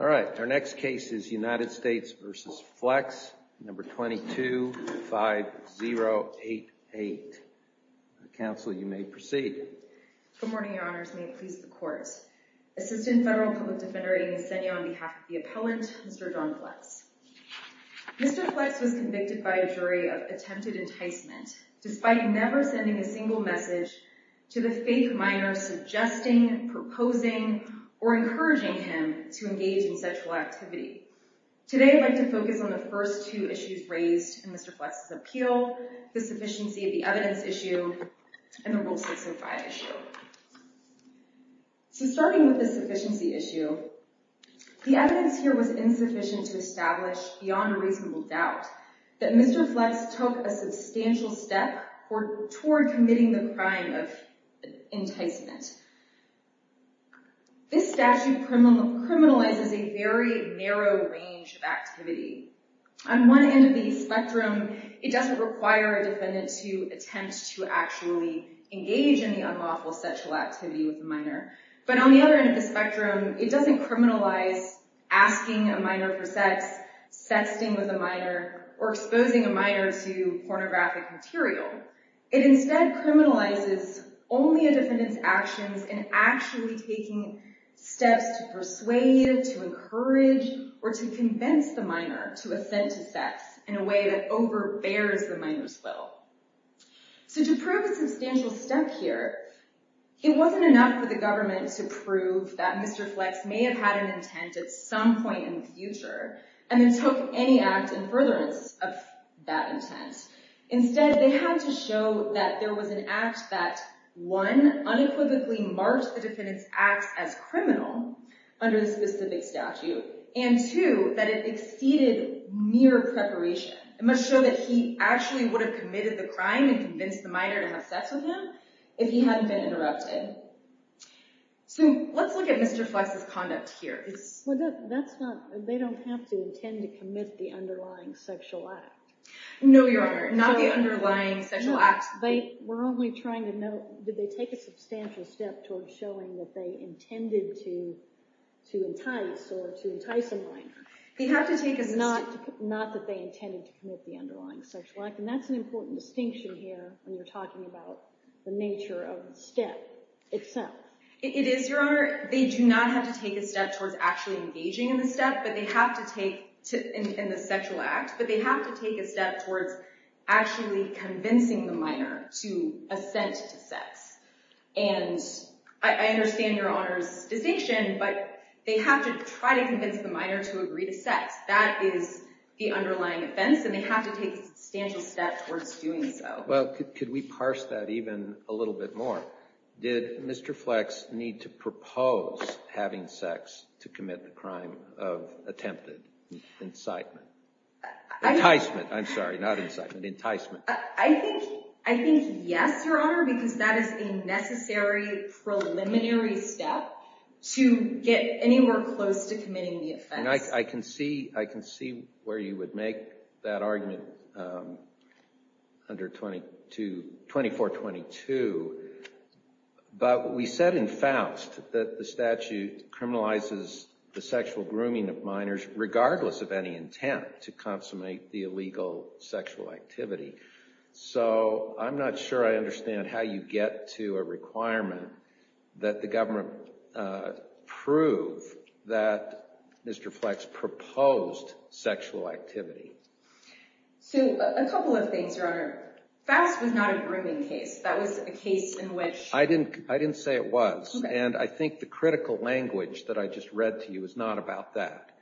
All right, our next case is United States v. Flechs, No. 22-5088. Counsel, you may proceed. Good morning, Your Honors. May it please the Court. Assistant Federal Public Defender Amy Flechs, you may proceed. Good morning, Your Honors. My name is Amy Flechs, and I'm the Assistant Federal Public Defender for United States v. Flechs. I'm here today to talk about a substantial step toward committing the crime of enticement. This statute criminalizes a very narrow range of activity. On one end of the spectrum, it doesn't require a defendant to attempt to actually engage in the unlawful sexual activity with a minor. But on the other end of the spectrum, it doesn't criminalize asking a minor for sex, sexting with a minor, or exposing a minor to pornographic material. It instead criminalizes only a defendant's actions in actually taking steps to persuade, to encourage, or to convince the minor to ascend to sex in a way that overbears the minor's will. So to prove a substantial step here, it wasn't enough for the government to prove that Mr. Flechs may have had an intent at some point in the future and then took any act in furtherance of that intent. Instead, they had to show that there was an act that, one, unequivocally marked the defendant's acts as criminal under the specific statute, and two, that it exceeded mere preparation. It must show that he actually would have committed the crime and convinced the minor to have sex with him if he hadn't been interrupted. So let's look at Mr. Flechs' conduct here. Well, they don't have to intend to commit the underlying sexual act. No, Your Honor. Not the underlying sexual act. We're only trying to know, did they take a substantial step towards showing that they intended to entice or to entice a minor? They have to take a... Not that they intended to commit the underlying sexual act. And that's an important distinction here when you're talking about the nature of the step itself. It is, Your Honor. They do not have to take a step towards actually engaging in the step in the sexual act, but they have to take a step towards actually convincing the minor to assent to sex. And I understand Your Honor's distinction, but they have to try to convince the minor to agree to sex. That is the underlying offense, and they have to take a substantial step towards doing so. Well, could we parse that even a little bit more? Did Mr. Flechs need to propose having sex to commit the crime of attempted incitement? Enticement, I'm sorry. Not incitement. Enticement. I think yes, Your Honor, because that is the necessary preliminary step to get anywhere close to committing the offense. I can see where you would make that argument under 2422, but we said in Faust that the statute criminalizes the sexual grooming of minors regardless of any intent to consummate the illegal sexual activity. So I'm not sure I understand how you get to a requirement that the government prove that Mr. Flechs proposed sexual activity. So a couple of things, Your Honor. Faust was not a grooming case. That was a case in which I didn't say it was, and I think the critical language that I just read to you is not about that.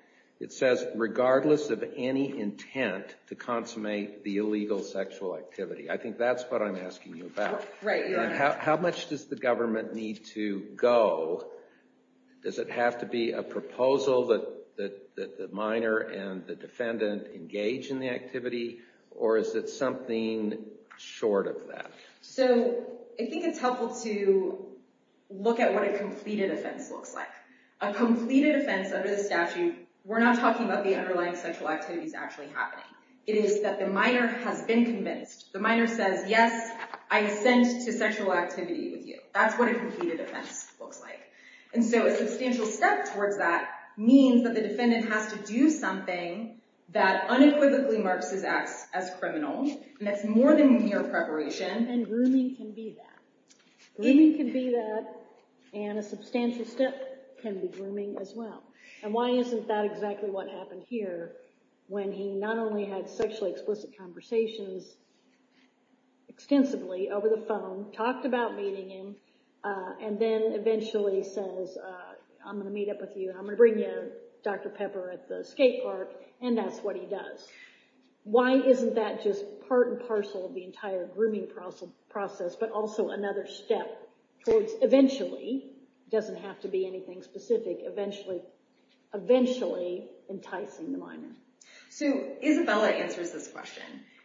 It says regardless of any intent to consummate the illegal sexual activity. I think that's what I'm asking you about. Right, Your Honor. How much does the government need to go? Does it have to be a proposal that the minor and the defendant engage in the activity, or is it something short of that? So I think it's helpful to look at what a completed offense looks like. A completed offense under the statute, we're not talking about the underlying sexual activities actually happening. It is that the minor has been convinced. The minor says, yes, I ascend to sexual activity with you. That's what a completed offense looks like. And so a substantial step towards that means that the defendant has to do something that unequivocally marks his acts as criminal, and that's more than mere preparation. And grooming can be that. Grooming can be that, and a substantial step can be grooming as well. And why isn't that exactly what happened here, when he not only had sexually explicit conversations extensively over the phone, talked about meeting him, and then eventually says, I'm going to meet up with you, and I'm going to bring you Dr. Pepper at the skate park, and that's what he does. Why isn't that just part and parcel of the entire grooming process, but also another step towards eventually, it doesn't have to be anything specific, eventually enticing the minor? So Isabella answers this question,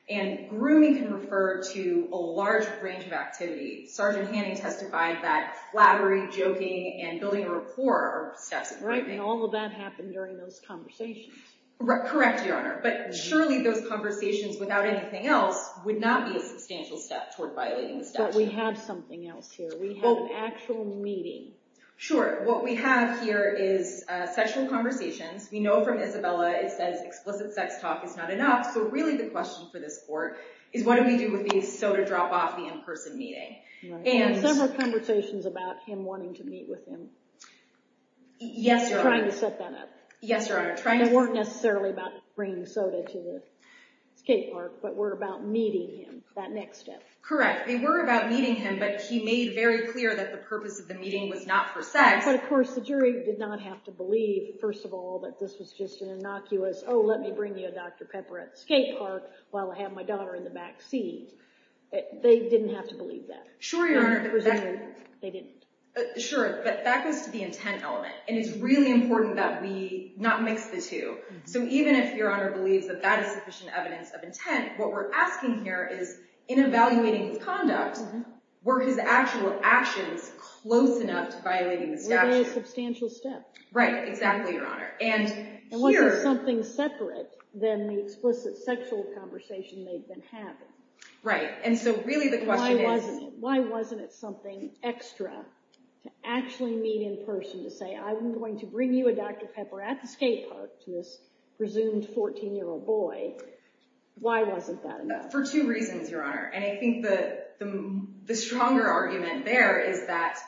and grooming can refer to a large range of activity. Sergeant Hanning testified that flattery, joking, and building a rapport are steps of grooming. Right, and all of that happened during those conversations. Correct, Your Honor, but surely those conversations without anything else would not be a substantial step toward violating the statute. But we have something else here. We have an actual meeting. Sure, what we have here is sexual conversations. We know from Isabella it says explicit sex talk is not enough, so really the question for this court is what do we do with these soda drop-off, the in-person meeting. Right, and several conversations about him wanting to meet with him. Yes, Your Honor. Trying to set that up. Yes, Your Honor. They weren't necessarily about bringing soda to the skate park, but were about meeting him, that next step. Correct, they were about meeting him, but he made very clear that the purpose of the meeting was not for sex. But, of course, the jury did not have to believe, first of all, that this was just an innocuous, oh, let me bring you a Dr. Pepper at the skate park while I have my daughter in the back seat. They didn't have to believe that. Sure, Your Honor. They didn't. Sure, but that goes to the intent element, and it's really important that we not mix the two. So even if Your Honor believes that that is sufficient evidence of intent, what we're asking here is, in evaluating his conduct, were his actual actions close enough to violating the statute? Were they a substantial step? Right, exactly, Your Honor. And here... And was it something separate than the explicit sexual conversation they'd been having? Right, and so really the question is... Why wasn't it something extra to actually meet in person to say, I'm going to bring you a Dr. Pepper at the skate park to this presumed 14-year-old boy. Why wasn't that enough? For two reasons, Your Honor, and I think the stronger argument there is that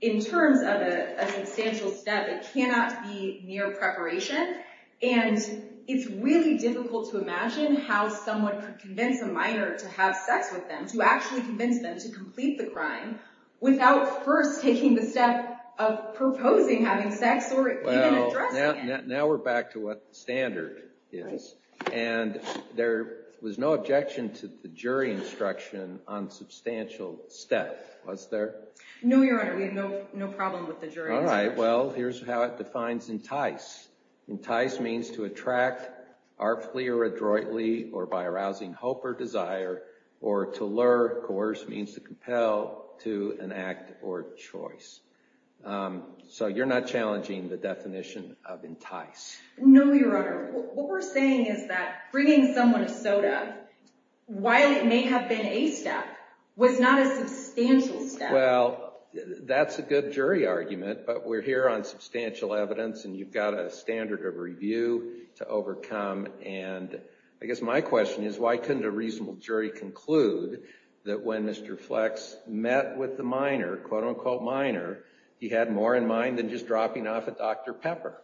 in terms of a substantial step, it cannot be mere preparation, and it's really difficult to imagine how someone could convince a minor to have sex with them, to actually convince them to complete the Well, now we're back to what standard is, and there was no objection to the jury instruction on substantial step, was there? No, Your Honor, we have no problem with the jury instruction. All right, well, here's how it defines entice. Entice means to attract artfully or adroitly or by arousing hope or desire, or to lure, of course, means to compel to an act or choice. So you're not challenging the definition of entice. No, Your Honor. What we're saying is that bringing someone a soda, while it may have been a step, was not a substantial step. Well, that's a good jury argument, but we're here on substantial evidence, and you've got a standard of review to overcome, and I guess my question is, why couldn't a reasonable jury conclude that when Mr. Flex met with the minor, quote-unquote minor, he had more in mind than just dropping off a Dr. Pepper?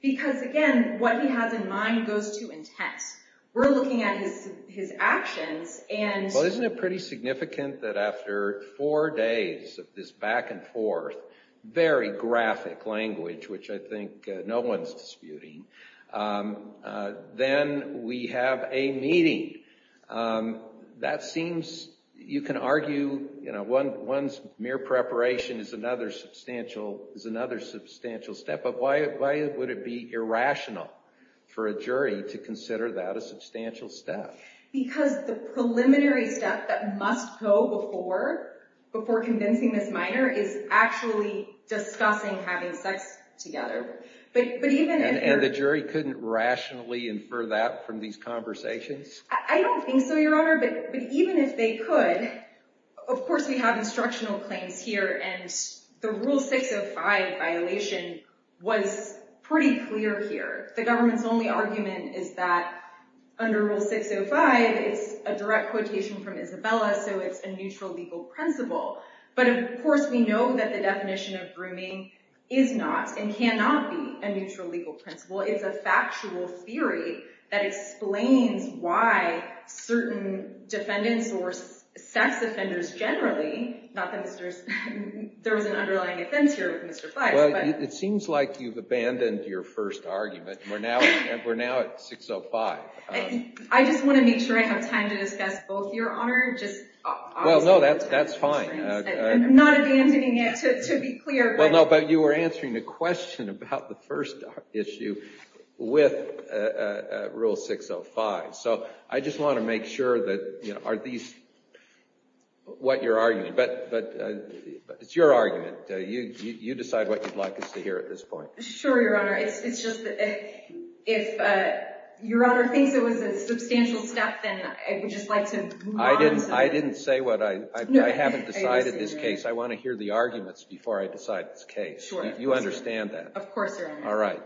Because, again, what he has in mind goes to entice. We're looking at his actions, and Well, isn't it pretty significant that after four days of this back and forth, very graphic language, which I think no one's disputing, then we have a meeting? That seems, you can argue, you know, one's mere preparation is another substantial step, but why would it be irrational for a jury to consider that a substantial step? Because the preliminary step that must go before convincing this minor is actually discussing having sex together. And the jury couldn't rationally infer that from these conversations? I don't think so, Your Honor, but even if they could, of course we have instructional claims here, and the Rule 605 violation was pretty clear here. The government's only argument is that under Rule 605, it's a direct quotation from Isabella, so it's a neutral legal principle. But, of course, we know that the definition of grooming is not, and cannot be, a neutral legal principle. It's a factual theory that explains why certain defendants or sex offenders generally, not that there's an underlying offense here with Mr. Fleiss, but Well, it seems like you've abandoned your first argument. We're now at 605. I just want to make sure I have time to discuss both, Your Honor. Well, no, that's fine. I'm not abandoning it, to be clear. Well, no, but you were answering the question about the first issue with Rule 605. So I just want to make sure that, you know, are these what you're arguing. But it's your argument. You decide what you'd like us to hear at this point. Sure, Your Honor. It's just that if Your Honor thinks it was a substantial step, then I would just like to move on. I didn't say what I, I haven't decided this case. I want to hear the arguments before I decide this case. You understand that. Of course, Your Honor. All right.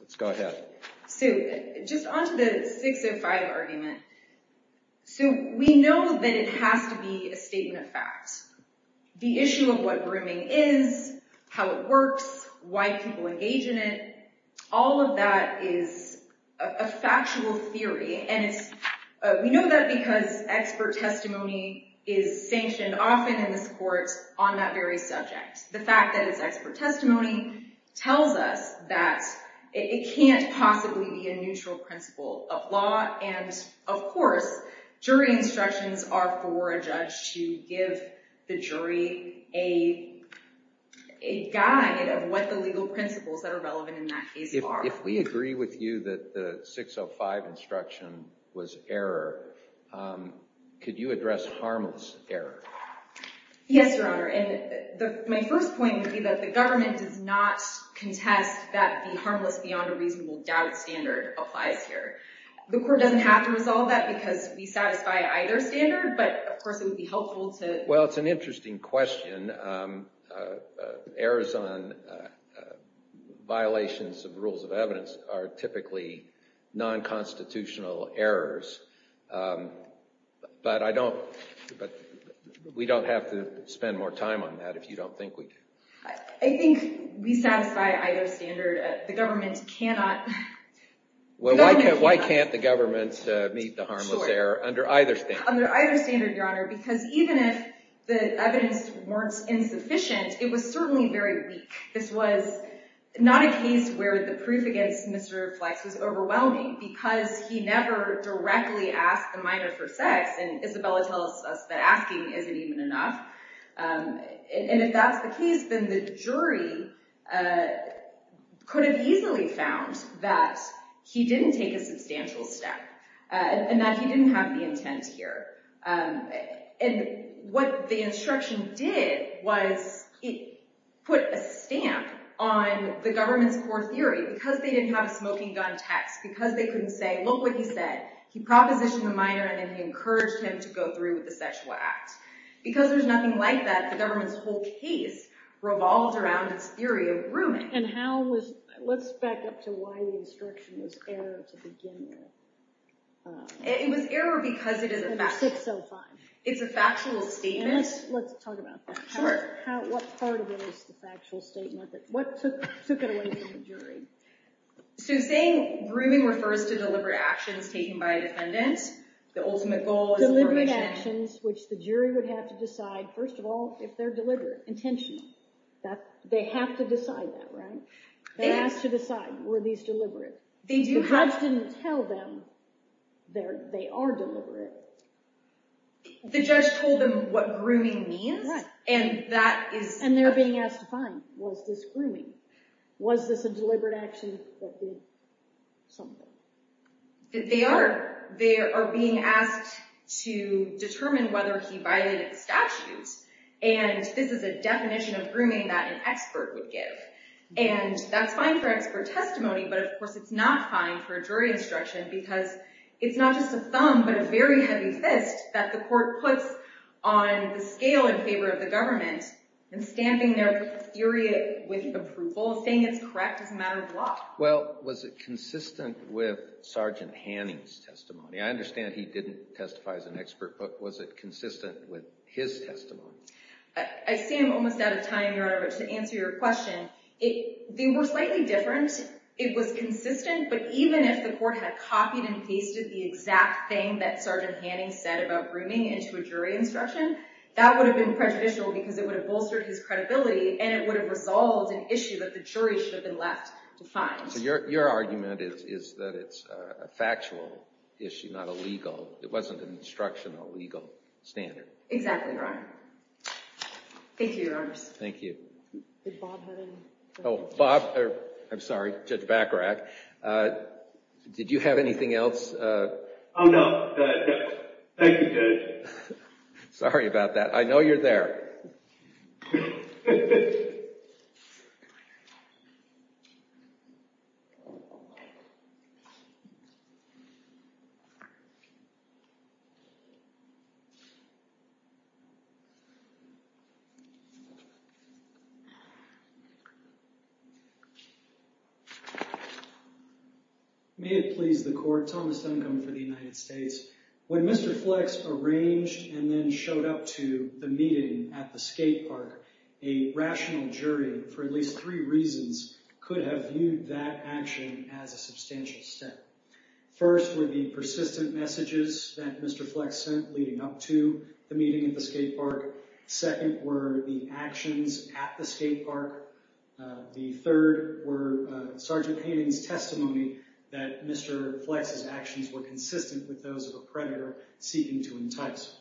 Let's go ahead. Sue, just on to the 605 argument. Sue, we know that it has to be a statement of fact. The issue of what grooming is, how it works, why people engage in it, all of that is a factual theory. And we know that because expert testimony is sanctioned often in this court on that very subject. The fact that it's expert testimony tells us that it can't possibly be a neutral principle of law. And, of course, jury instructions are for a judge to give the jury a guide of what the legal principles that are relevant in that case are. If we agree with you that the 605 instruction was error, could you address harmless error? Yes, Your Honor. And my first point would be that the government does not contest that the harmless beyond a reasonable doubt standard applies here. The court doesn't have to resolve that because we satisfy either standard. But, of course, it would be helpful to— Well, it's an interesting question. Errors on violations of rules of evidence are typically non-constitutional errors. But we don't have to spend more time on that if you don't think we do. I think we satisfy either standard. The government cannot— Well, why can't the government meet the harmless error under either standard? Because even if the evidence weren't insufficient, it was certainly very weak. This was not a case where the proof against Mr. Flex was overwhelming because he never directly asked the minor for sex. And Isabella tells us that asking isn't even enough. And if that's the case, then the jury could have easily found that he didn't take a substantial step and that he didn't have the intent here. And what the instruction did was it put a stamp on the government's core theory. Because they didn't have a smoking gun text, because they couldn't say, look what he said, he propositioned the minor and then he encouraged him to go through with the sexual act. Because there's nothing like that, the government's whole case revolved around its theory of grooming. And how was—let's back up to why the instruction was error to begin with. It was error because it is a factual statement. And let's talk about that. What part of it is the factual statement? What took it away from the jury? So saying grooming refers to deliberate actions taken by a defendant. The ultimate goal is— Deliberate actions, which the jury would have to decide, first of all, if they're deliberate, intentional. They have to decide that, right? They have to decide, were these deliberate? The judge didn't tell them they are deliberate. The judge told them what grooming means? Right. And that is— And they're being asked to find, was this grooming? Was this a deliberate action that did something? They are. They are being asked to determine whether he violated the statutes. And this is a definition of grooming that an expert would give. And that's fine for expert testimony. But, of course, it's not fine for jury instruction because it's not just a thumb but a very heavy fist that the court puts on the scale in favor of the government. And stamping their theory with approval, saying it's correct is a matter of law. Well, was it consistent with Sergeant Hanning's testimony? I understand he didn't testify as an expert, but was it consistent with his testimony? I see I'm almost out of time, Your Honor, but to answer your question, they were slightly different. It was consistent, but even if the court had copied and pasted the exact thing that Sergeant Hanning said about grooming into a jury instruction, that would have been prejudicial because it would have bolstered his credibility and it would have resolved an issue that the jury should have been left to find. So your argument is that it's a factual issue, not a legal—it wasn't an instructional legal standard. Exactly, Your Honor. Thank you, Your Honors. Thank you. Did Bob have any— Oh, Bob—I'm sorry, Judge Bacharach. Did you have anything else? Oh, no. Thank you, Judge. Sorry about that. I know you're there. May it please the court, Thomas Duncombe for the United States. When Mr. Flex arranged and then showed up to the meeting at the skate park, a rational jury, for at least three reasons, could have viewed that action as a substantial step. First were the persistent messages that Mr. Flex sent leading up to the meeting at the skate park. Second were the actions at the skate park. The third were Sergeant Hanning's testimony that Mr. Flex's actions were consistent with those of a predator seeking to entice him.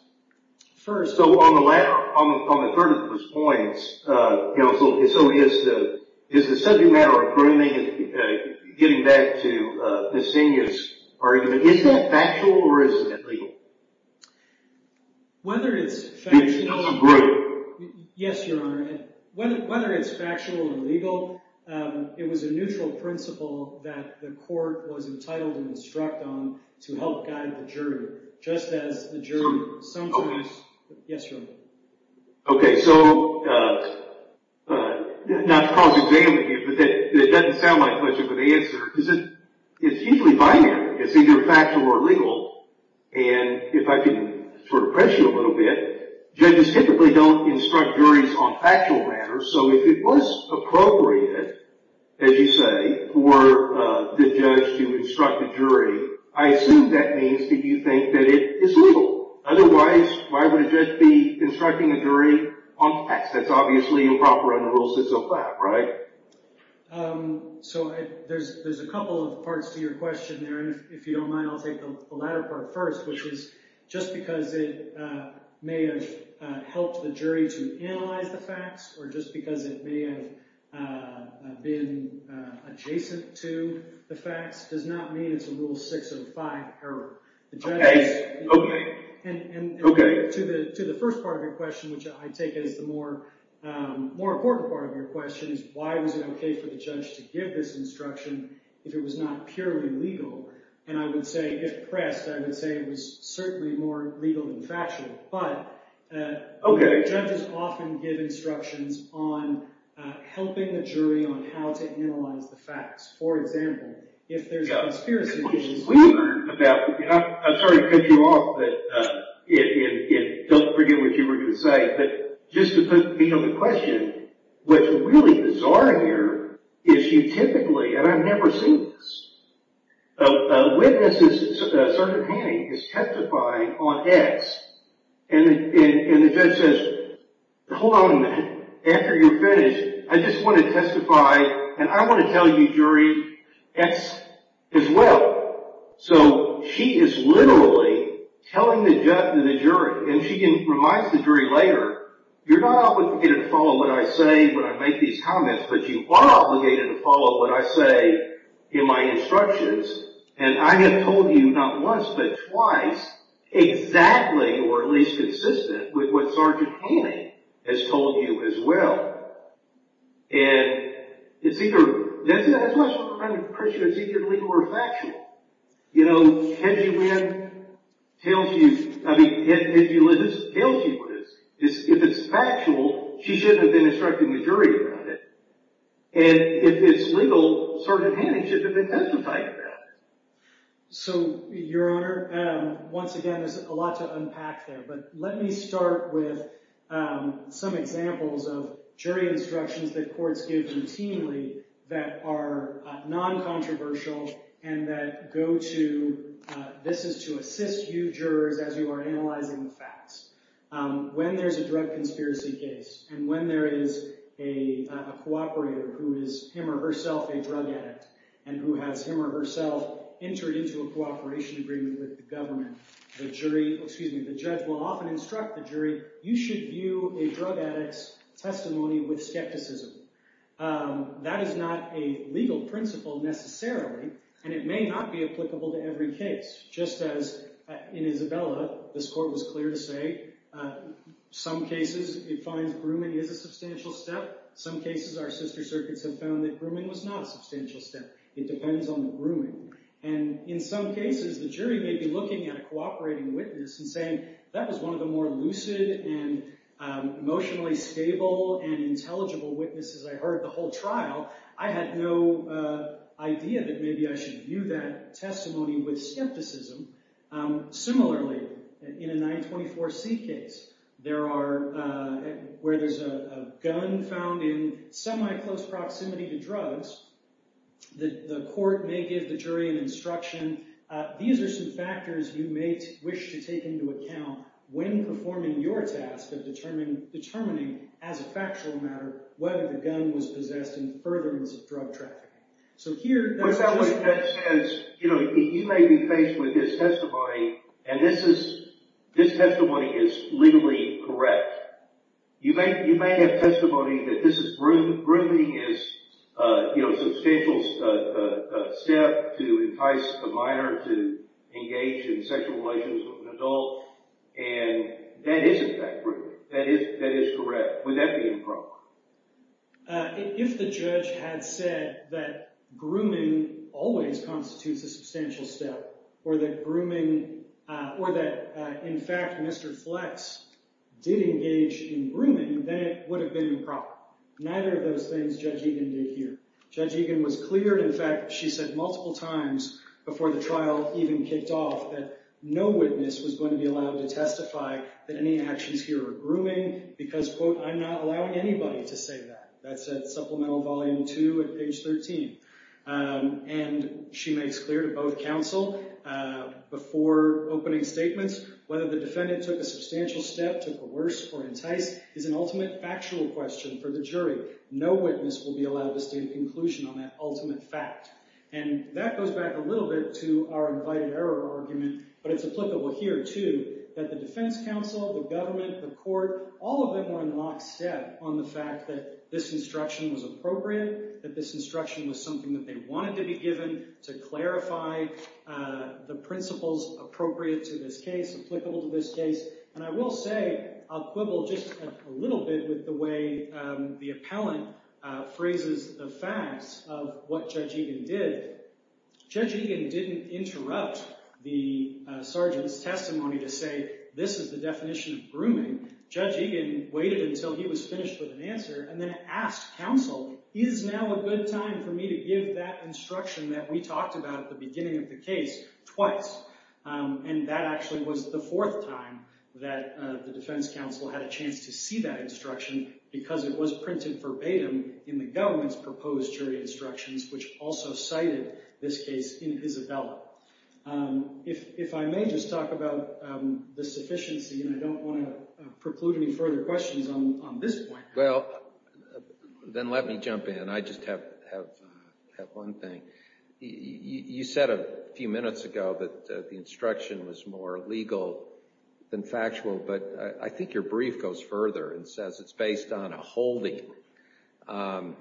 First— So on the third of those points, so is the subject matter of grooming, getting back to Ms. Senia's argument, is that factual or is it legal? Whether it's factual— It's a group. It's a group. Okay. Yes, Your Honor. Okay, so not to cause examination, but it doesn't sound like much of an answer. It's usually binary. It's either factual or legal. And if I can sort of press you a little bit, judges typically don't instruct juries on factual matters. So if it was appropriate, as you say, for the judge to instruct the jury, I assume that means that you think that it is legal. Otherwise, why would a judge be instructing a jury on facts? That's obviously improper under Rule 605, right? So there's a couple of parts to your question there. And if you don't mind, I'll take the latter part first, which is just because it may have helped the jury to analyze the facts or just because it may have been adjacent to the facts does not mean it's a Rule 605 error. Okay. And to the first part of your question, which I take as the more important part of your question, is why was it okay for the judge to give this instruction if it was not purely legal? And I would say if pressed, I would say it was certainly more legal than factual. But judges often give instructions on helping the jury on how to analyze the facts. For example, if there's a conspiracy. I'm sorry to cut you off, but don't forget what you were going to say. But just to put me on the question, what's really bizarre here is you typically, and I've never seen this, a witness is certifying, is testifying on X, and the judge says, Hold on a minute. After you're finished, I just want to testify, and I want to tell you, jury, X as well. So she is literally telling the judge and the jury, and she reminds the jury later, you're not obligated to follow what I say when I make these comments, but you are obligated to follow what I say in my instructions. And I have told you not once, but twice, exactly or at least consistent with what Sergeant Hanning has told you as well. And it's either, that's my sort of question, is it either legal or factual? You know, can she win? Tells you, I mean, if it's factual, she shouldn't have been instructing the jury about it. And if it's legal, Sergeant Hanning should have been testifying about it. So, Your Honor, once again, there's a lot to unpack there, but let me start with some examples of jury instructions that courts give routinely that are non-controversial and that go to, this is to assist you jurors as you are analyzing the facts. When there's a drug conspiracy case, and when there is a cooperator who is him or herself a drug addict, and who has him or herself entered into a cooperation agreement with the government, the jury, excuse me, the judge will often instruct the jury, you should view a drug addict's testimony with skepticism. That is not a legal principle necessarily, and it may not be applicable to every case. Just as in Isabella, this court was clear to say, some cases it finds grooming is a substantial step, some cases our sister circuits have found that grooming was not a substantial step. And in some cases, the jury may be looking at a cooperating witness and saying, that was one of the more lucid and emotionally stable and intelligible witnesses I heard the whole trial. I had no idea that maybe I should view that testimony with skepticism. Similarly, in a 924C case, where there's a gun found in semi-close proximity to drugs, the court may give the jury an instruction, these are some factors you may wish to take into account when performing your task of determining, as a factual matter, whether the gun was possessed in furtherance of drug trafficking. But that says, you may be faced with this testimony, and this testimony is legally correct. You may have testimony that this grooming is a substantial step to entice a minor to engage in sexual relations with an adult, and that isn't that grooming, that is correct. Would that be improper? If the judge had said that grooming always constitutes a substantial step, or that grooming, or that in fact Mr. Flex did engage in grooming, then it would have been improper. Neither of those things Judge Egan did here. Judge Egan was clear, in fact, she said multiple times before the trial even kicked off, that no witness was going to be allowed to testify that any actions here were grooming, because, quote, I'm not allowing anybody to say that. That's at Supplemental Volume 2 at page 13. And she makes clear to both counsel, before opening statements, whether the defendant took a substantial step to coerce or entice is an ultimate factual question for the jury. No witness will be allowed to state a conclusion on that ultimate fact. And that goes back a little bit to our invited error argument, but it's applicable here too, that the defense counsel, the government, the court, all of them were in lockstep on the fact that this instruction was appropriate, that this instruction was something that they wanted to be given to clarify the principles appropriate to this case, applicable to this case. And I will say, I'll quibble just a little bit with the way the appellant phrases the facts of what Judge Egan did. Judge Egan didn't interrupt the sergeant's testimony to say this is the definition of grooming. Judge Egan waited until he was finished with an answer, and then asked counsel, is now a good time for me to give that instruction that we talked about at the beginning of the case twice? And that actually was the fourth time that the defense counsel had a chance to see that instruction, because it was printed verbatim in the government's proposed jury instructions, which also cited this case in Isabella. If I may just talk about the sufficiency, and I don't want to preclude any further questions on this point. Well, then let me jump in. I just have one thing. You said a few minutes ago that the instruction was more legal than factual, but I think your brief goes further and says it's based on a holding. A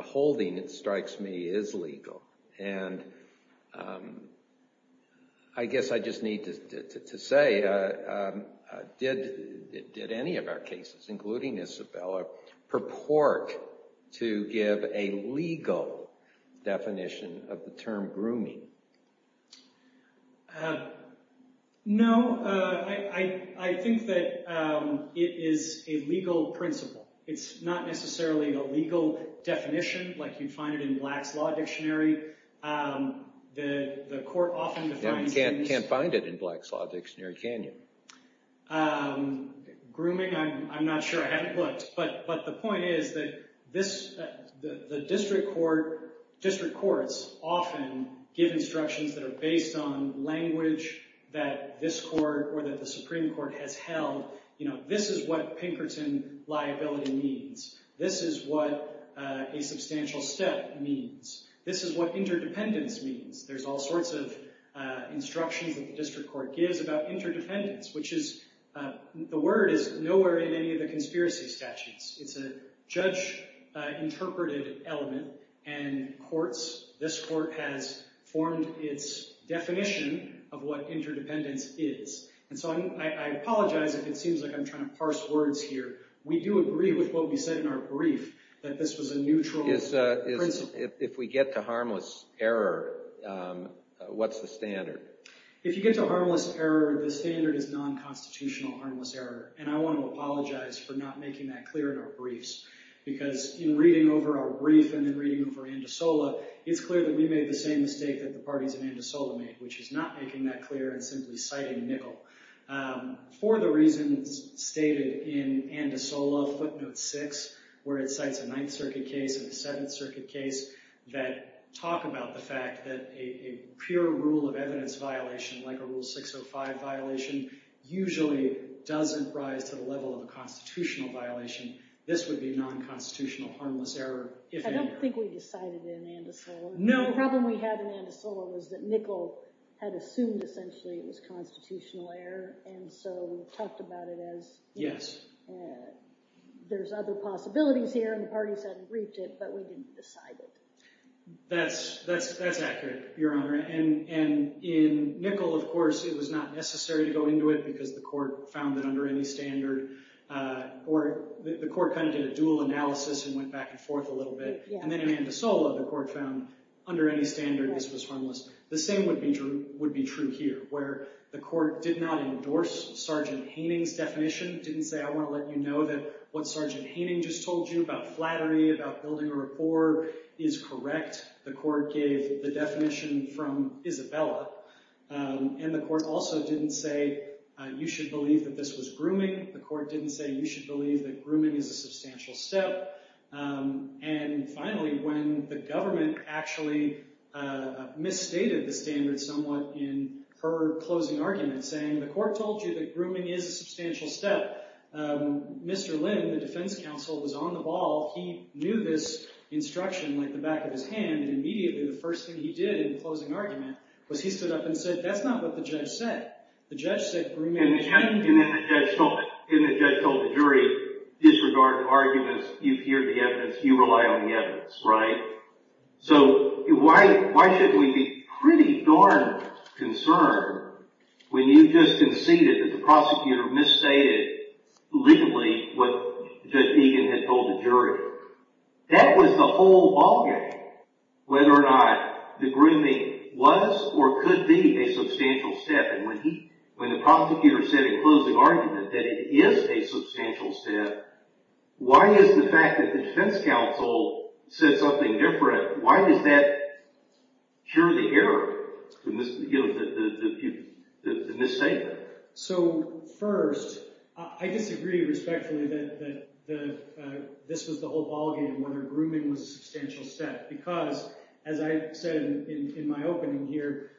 holding, it strikes me, is legal. And I guess I just need to say, did any of our cases, including Isabella, purport to give a legal definition of the term grooming? No. I think that it is a legal principle. It's not necessarily a legal definition, like you'd find it in Black's Law Dictionary. The court often defines it as… You can't find it in Black's Law Dictionary, can you? Grooming, I'm not sure. I haven't looked. But the point is that the district courts often give instructions that are based on language that this court or that the Supreme Court has held. This is what Pinkerton liability means. This is what a substantial step means. This is what interdependence means. There's all sorts of instructions that the district court gives about interdependence, which the word is nowhere in any of the conspiracy statutes. It's a judge-interpreted element, and this court has formed its definition of what interdependence is. And so I apologize if it seems like I'm trying to parse words here. We do agree with what we said in our brief, that this was a neutral principle. If we get to harmless error, what's the standard? If you get to harmless error, the standard is non-constitutional harmless error, and I want to apologize for not making that clear in our briefs. Because in reading over our brief and in reading over Andisola, it's clear that we made the same mistake that the parties in Andisola made, which is not making that clear and simply citing Nicol. For the reasons stated in Andisola footnote 6, where it cites a Ninth Circuit case and a Seventh Circuit case that talk about the fact that a pure rule of evidence violation, like a Rule 605 violation, usually doesn't rise to the level of a constitutional violation. This would be non-constitutional harmless error, if any. I don't think we decided in Andisola. The problem we had in Andisola was that Nicol had assumed essentially it was constitutional error, and so we talked about it as, there's other possibilities here, and the parties hadn't briefed it, but we didn't decide it. That's accurate, Your Honor. And in Nicol, of course, it was not necessary to go into it because the court found that under any standard, or the court kind of did a dual analysis and went back and forth a little bit. And then in Andisola, the court found under any standard, this was harmless. The same would be true here, where the court did not endorse Sergeant Haining's definition, didn't say, I want to let you know that what Sergeant Haining just told you about flattery, about building a rapport, is correct. The court gave the definition from Isabella. And the court also didn't say you should believe that this was grooming. The court didn't say you should believe that grooming is a substantial step. And finally, when the government actually misstated the standard somewhat in her closing argument, saying the court told you that grooming is a substantial step, Mr. Lynn, the defense counsel, was on the ball. He knew this instruction like the back of his hand, and immediately the first thing he did in the closing argument was he stood up and said, that's not what the judge said. And then the judge told the jury, disregard the arguments. You've heard the evidence. You rely on the evidence, right? So why should we be pretty darn concerned when you just conceded that the prosecutor misstated legally what Judge Egan had told the jury? That was the whole ballgame, whether or not the grooming was or could be a substantial step. And when the prosecutor said in closing argument that it is a substantial step, why is the fact that the defense counsel said something different, why does that cure the error, the misstatement? So first, I disagree respectfully that this was the whole ballgame, whether grooming was a substantial step, because as I said in my opening here,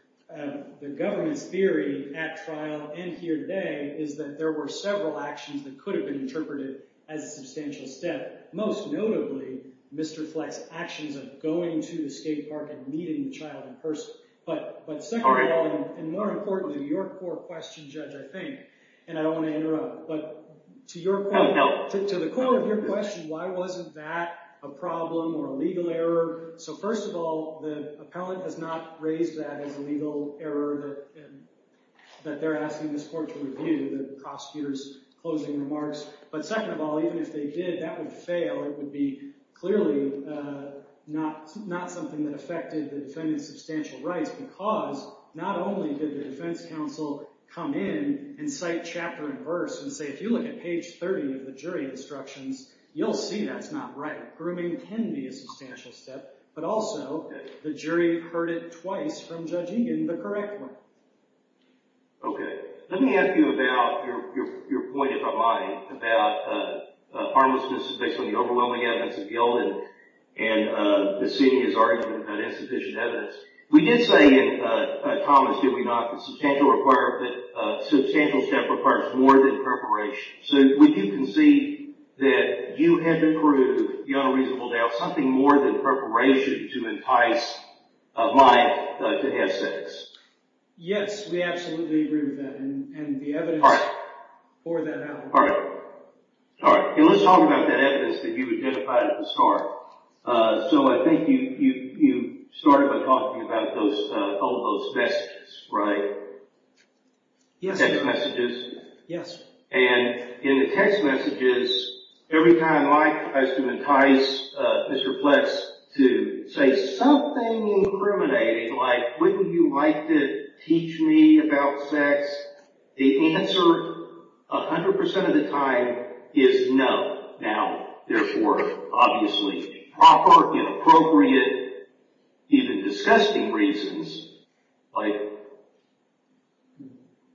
the government's theory at trial and here today is that there were several actions that could have been interpreted as a substantial step. Most notably, Mr. Fleck's actions of going to the skate park and meeting the child in person. But second of all, and more importantly, your core question, Judge, I think, and I don't want to interrupt, but to the core of your question, why wasn't that a problem or a legal error? So first of all, the appellant has not raised that as a legal error that they're asking this court to review, the prosecutor's closing remarks. But second of all, even if they did, that would fail. It would be clearly not something that affected the defendant's substantial rights because not only did the defense counsel come in and cite chapter and verse and say, if you look at page 30 of the jury instructions, you'll see that's not right. Grooming can be a substantial step, but also the jury heard it twice from Judge Egan, the correct one. Okay. Let me ask you about your point, if I might, about harmlessness based on the overwhelming evidence of guilt and the senior's argument about insufficient evidence. We did say in Thomas, did we not, that substantial step requires more than preparation. So would you concede that you had to prove beyond a reasonable doubt something more than preparation to entice Mike to have sex? Yes, we absolutely agree with that and the evidence for that happens. All right. All right. And let's talk about that evidence that you identified at the start. So I think you started by talking about those, all of those messages, right? Yes, sir. Text messages? Yes, sir. And in the text messages, every time Mike has to entice Mr. Pletz to say something incriminating, like, wouldn't you like to teach me about sex? The answer, 100% of the time, is no. Now, therefore, obviously proper, inappropriate, even disgusting reasons. Like,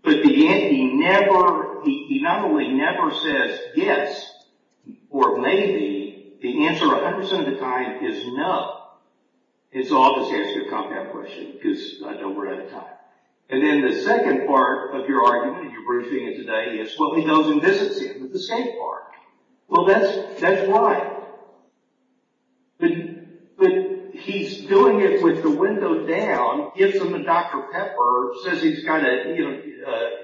at the end, he never, he not only never says yes, or maybe, the answer 100% of the time is no. And so I'll just ask you a compound question because I know we're out of time. And then the second part of your argument in your briefing today is, well, he goes and visits him with the same part. Well, that's right. But he's doing it with the window down, gives him a Dr. Pepper, says he's got to,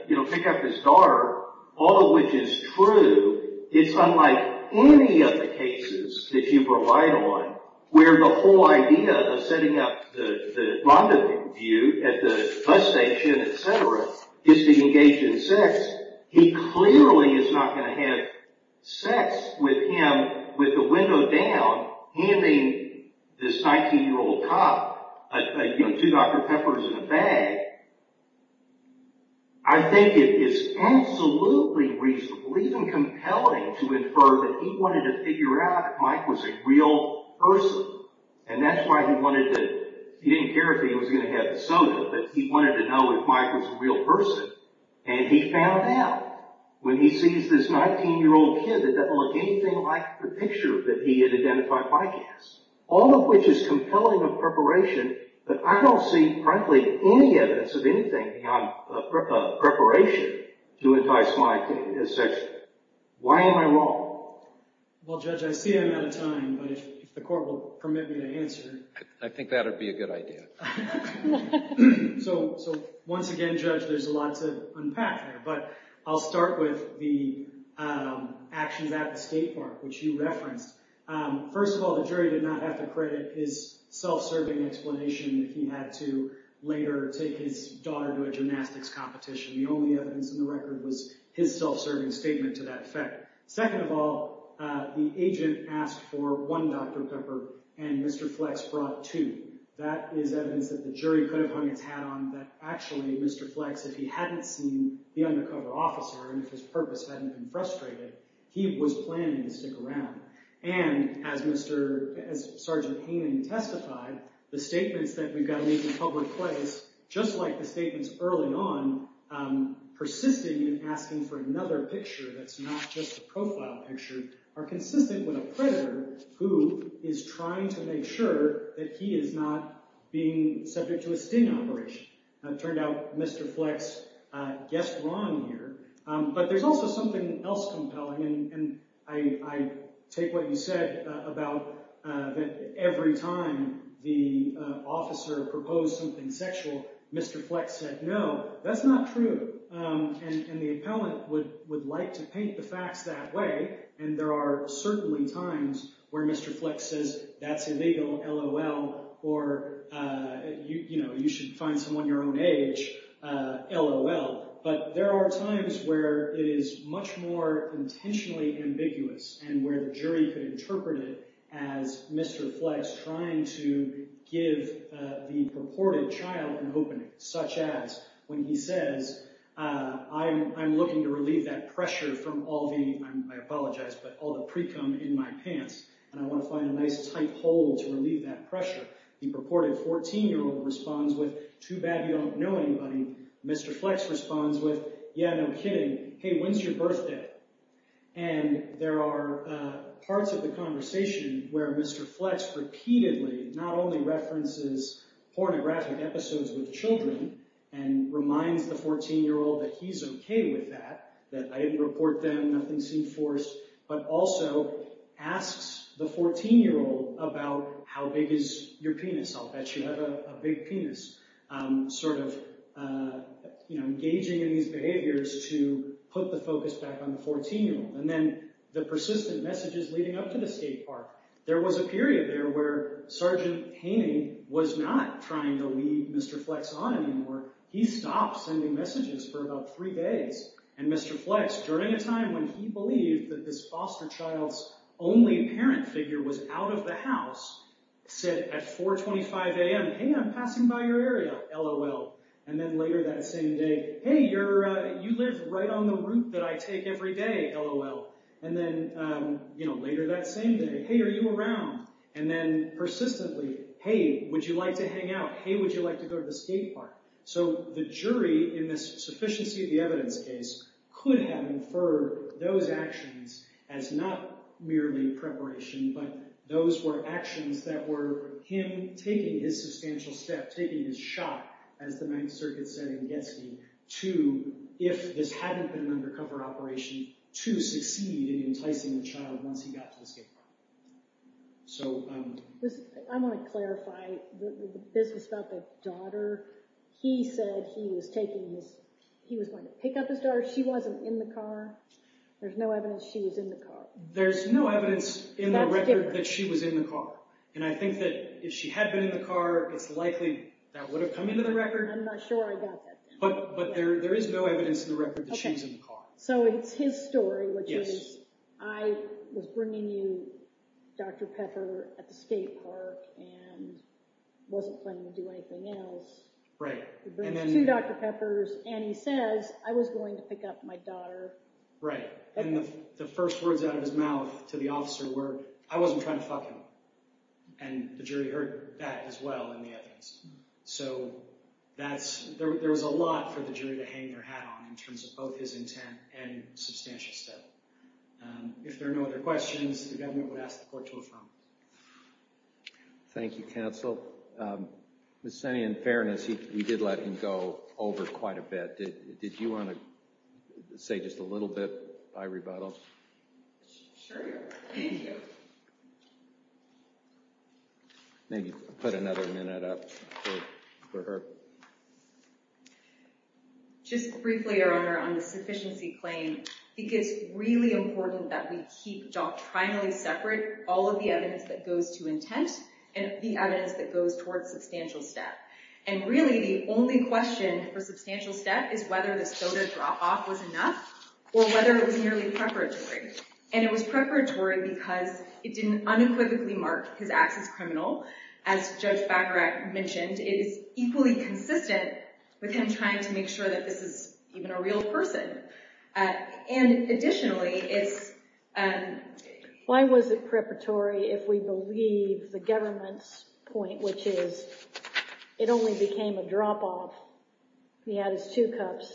you know, pick up his daughter, all of which is true. It's unlike any of the cases that you provide on where the whole idea of setting up the rendezvous at the bus station, et cetera, is to engage in sex. He clearly is not going to have sex with him with the window down, handing this 19-year-old cop two Dr. Peppers in a bag. I think it is absolutely reasonable, even compelling, to infer that he wanted to figure out if Mike was a real person. And that's why he wanted to, he didn't care if he was going to have the soda, but he wanted to know if Mike was a real person. And he found out when he sees this 19-year-old kid that doesn't look anything like the picture that he had identified Mike as. All of which is compelling of preparation, but I don't see, frankly, any evidence of anything beyond preparation to entice Mike to have sex with him. Why am I wrong? Well, Judge, I see I'm out of time, but if the Court will permit me to answer. I think that would be a good idea. So, once again, Judge, there's a lot to unpack here, but I'll start with the actions at the skate park, which you referenced. First of all, the jury did not have to credit his self-serving explanation that he had to later take his daughter to a gymnastics competition. The only evidence in the record was his self-serving statement to that effect. Second of all, the agent asked for one Dr. Pepper, and Mr. Flex brought two. That is evidence that the jury could have hung its hat on that, actually, Mr. Flex, if he hadn't seen the undercover officer, and if his purpose hadn't been frustrated, he was planning to stick around. And, as Sergeant Haining testified, the statements that we've got to leave in public place, just like the statements early on, persisting in asking for another picture that's not just a profile picture, are consistent with a predator who is trying to make sure that he is not being subject to a sting operation. It turned out Mr. Flex guessed wrong here. But there's also something else compelling, and I take what you said about that every time the officer proposed something sexual, Mr. Flex said no. That's not true, and the appellant would like to paint the facts that way, and there are certainly times where Mr. Flex says, that's illegal, LOL, or, you know, you should find someone your own age, LOL. But there are times where it is much more intentionally ambiguous, and where the jury could interpret it as Mr. Flex trying to give the purported child an opening. Such as, when he says, I'm looking to relieve that pressure from all the, I apologize, but all the precum in my pants, and I want to find a nice tight hole to relieve that pressure. The purported 14-year-old responds with, too bad you don't know anybody. Mr. Flex responds with, yeah, no kidding, hey, when's your birthday? And there are parts of the conversation where Mr. Flex repeatedly, not only references pornographic episodes with children, and reminds the 14-year-old that he's okay with that. That I didn't report them, nothing seemed forced, but also asks the 14-year-old about how big is your penis? I'll bet you have a big penis. Sort of, you know, engaging in these behaviors to put the focus back on the 14-year-old. And then the persistent messages leading up to the skate park. There was a period there where Sergeant Haney was not trying to lead Mr. Flex on anymore. He stopped sending messages for about three days. And Mr. Flex, during a time when he believed that this foster child's only parent figure was out of the house, said at 4.25 a.m., hey, I'm passing by your area, lol. And then later that same day, hey, you live right on the route that I take every day, lol. And then later that same day, hey, are you around? And then persistently, hey, would you like to hang out? Hey, would you like to go to the skate park? So the jury, in the sufficiency of the evidence case, could have inferred those actions as not merely preparation, but those were actions that were him taking his substantial step, taking his shot, as the Ninth Circuit said in Getzky, to, if this hadn't been an undercover operation, to succeed in enticing the child once he got to the skate park. I want to clarify, this is about the daughter. He said he was going to pick up his daughter. She wasn't in the car. There's no evidence she was in the car. There's no evidence in the record that she was in the car. And I think that if she had been in the car, it's likely that would have come into the record. I'm not sure I got that. But there is no evidence in the record that she was in the car. So it's his story, which is, I was bringing you Dr. Pepper at the skate park and wasn't planning to do anything else. He brings two Dr. Peppers, and he says, I was going to pick up my daughter. Right. And the first words out of his mouth to the officer were, I wasn't trying to fuck him. And the jury heard that as well in the evidence. So there was a lot for the jury to hang their hat on in terms of both his intent and substantial step. If there are no other questions, the government would ask the court to affirm. Thank you, counsel. Ms. Senna, in fairness, we did let him go over quite a bit. Did you want to say just a little bit by rebuttal? Sure. Thank you. Maybe put another minute up for her. Just briefly, Your Honor, on the sufficiency claim, it is really important that we keep doctrinally separate all of the evidence that goes to intent and the evidence that goes towards substantial step. And really, the only question for substantial step is whether the soda drop off was enough or whether it was merely preparatory. And it was preparatory because it didn't unequivocally mark his acts as criminal. As Judge Bagarach mentioned, it is equally consistent with him trying to make sure that this is even a real person. And additionally, it's… Why was it preparatory if we believe the government's point, which is it only became a drop off. He had his two cups.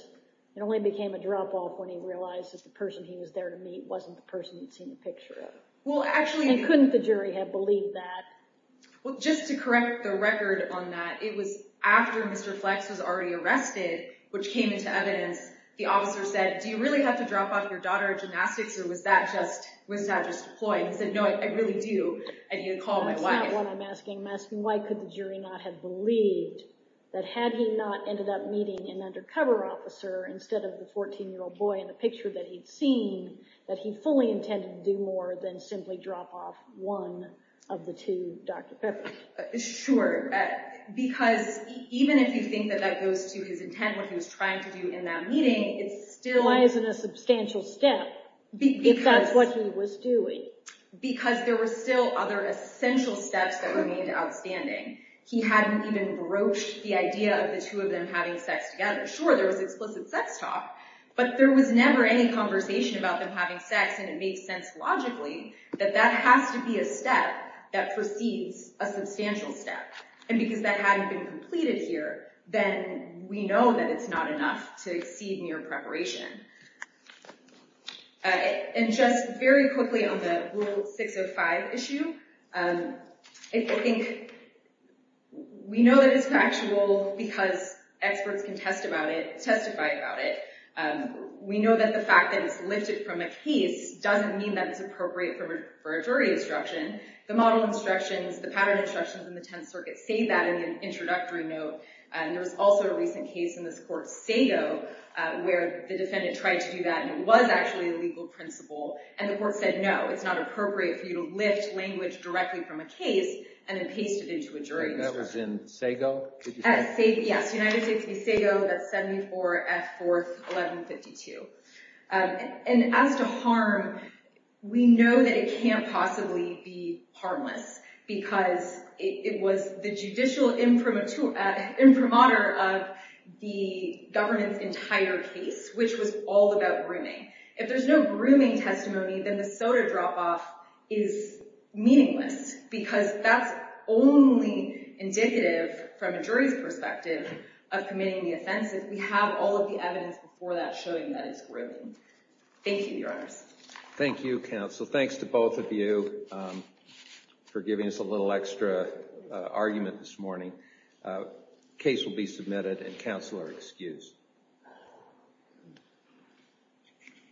It only became a drop off when he realized that the person he was there to meet wasn't the person he'd seen the picture of. And couldn't the jury have believed that? Well, just to correct the record on that, it was after Mr. Flex was already arrested, which came into evidence, the officer said, do you really have to drop off your daughter gymnastics or was that just a ploy? And he said, no, I really do. I need to call my wife. That's not what I'm asking. I'm asking why could the jury not have believed that had he not ended up meeting an undercover officer instead of the 14-year-old boy in the picture that he'd seen, that he fully intended to do more than simply drop off one of the two Dr. Peppers? Sure. Because even if you think that that goes to his intent, what he was trying to do in that meeting, it's still… Why is it a substantial step if that's what he was doing? Because there were still other essential steps that remained outstanding. He hadn't even broached the idea of the two of them having sex together. Sure, there was explicit sex talk, but there was never any conversation about them having sex. And it makes sense logically that that has to be a step that precedes a substantial step. And because that hadn't been completed here, then we know that it's not enough to exceed mere preparation. And just very quickly on the Rule 605 issue, I think we know that it's factual because experts can test about it, testify about it. We know that the fact that it's lifted from a case doesn't mean that it's appropriate for a jury instruction. The model instructions, the pattern instructions in the Tenth Circuit say that in the introductory note. And there was also a recent case in this court, Sago, where the defendant tried to do that and it was actually a legal principle. And the court said, no, it's not appropriate for you to lift language directly from a case and then paste it into a jury instruction. Yes, United States v. Sago, that's 74 F. 4th, 1152. And as to harm, we know that it can't possibly be harmless because it was the judicial imprimatur of the government's entire case, which was all about grooming. If there's no grooming testimony, then the soda drop-off is meaningless because that's only indicative from a jury's perspective of committing the offense if we have all of the evidence before that showing that it's grooming. Thank you, Your Honors. Thank you, counsel. Thanks to both of you for giving us a little extra argument this morning. The case will be submitted and counsel are excused.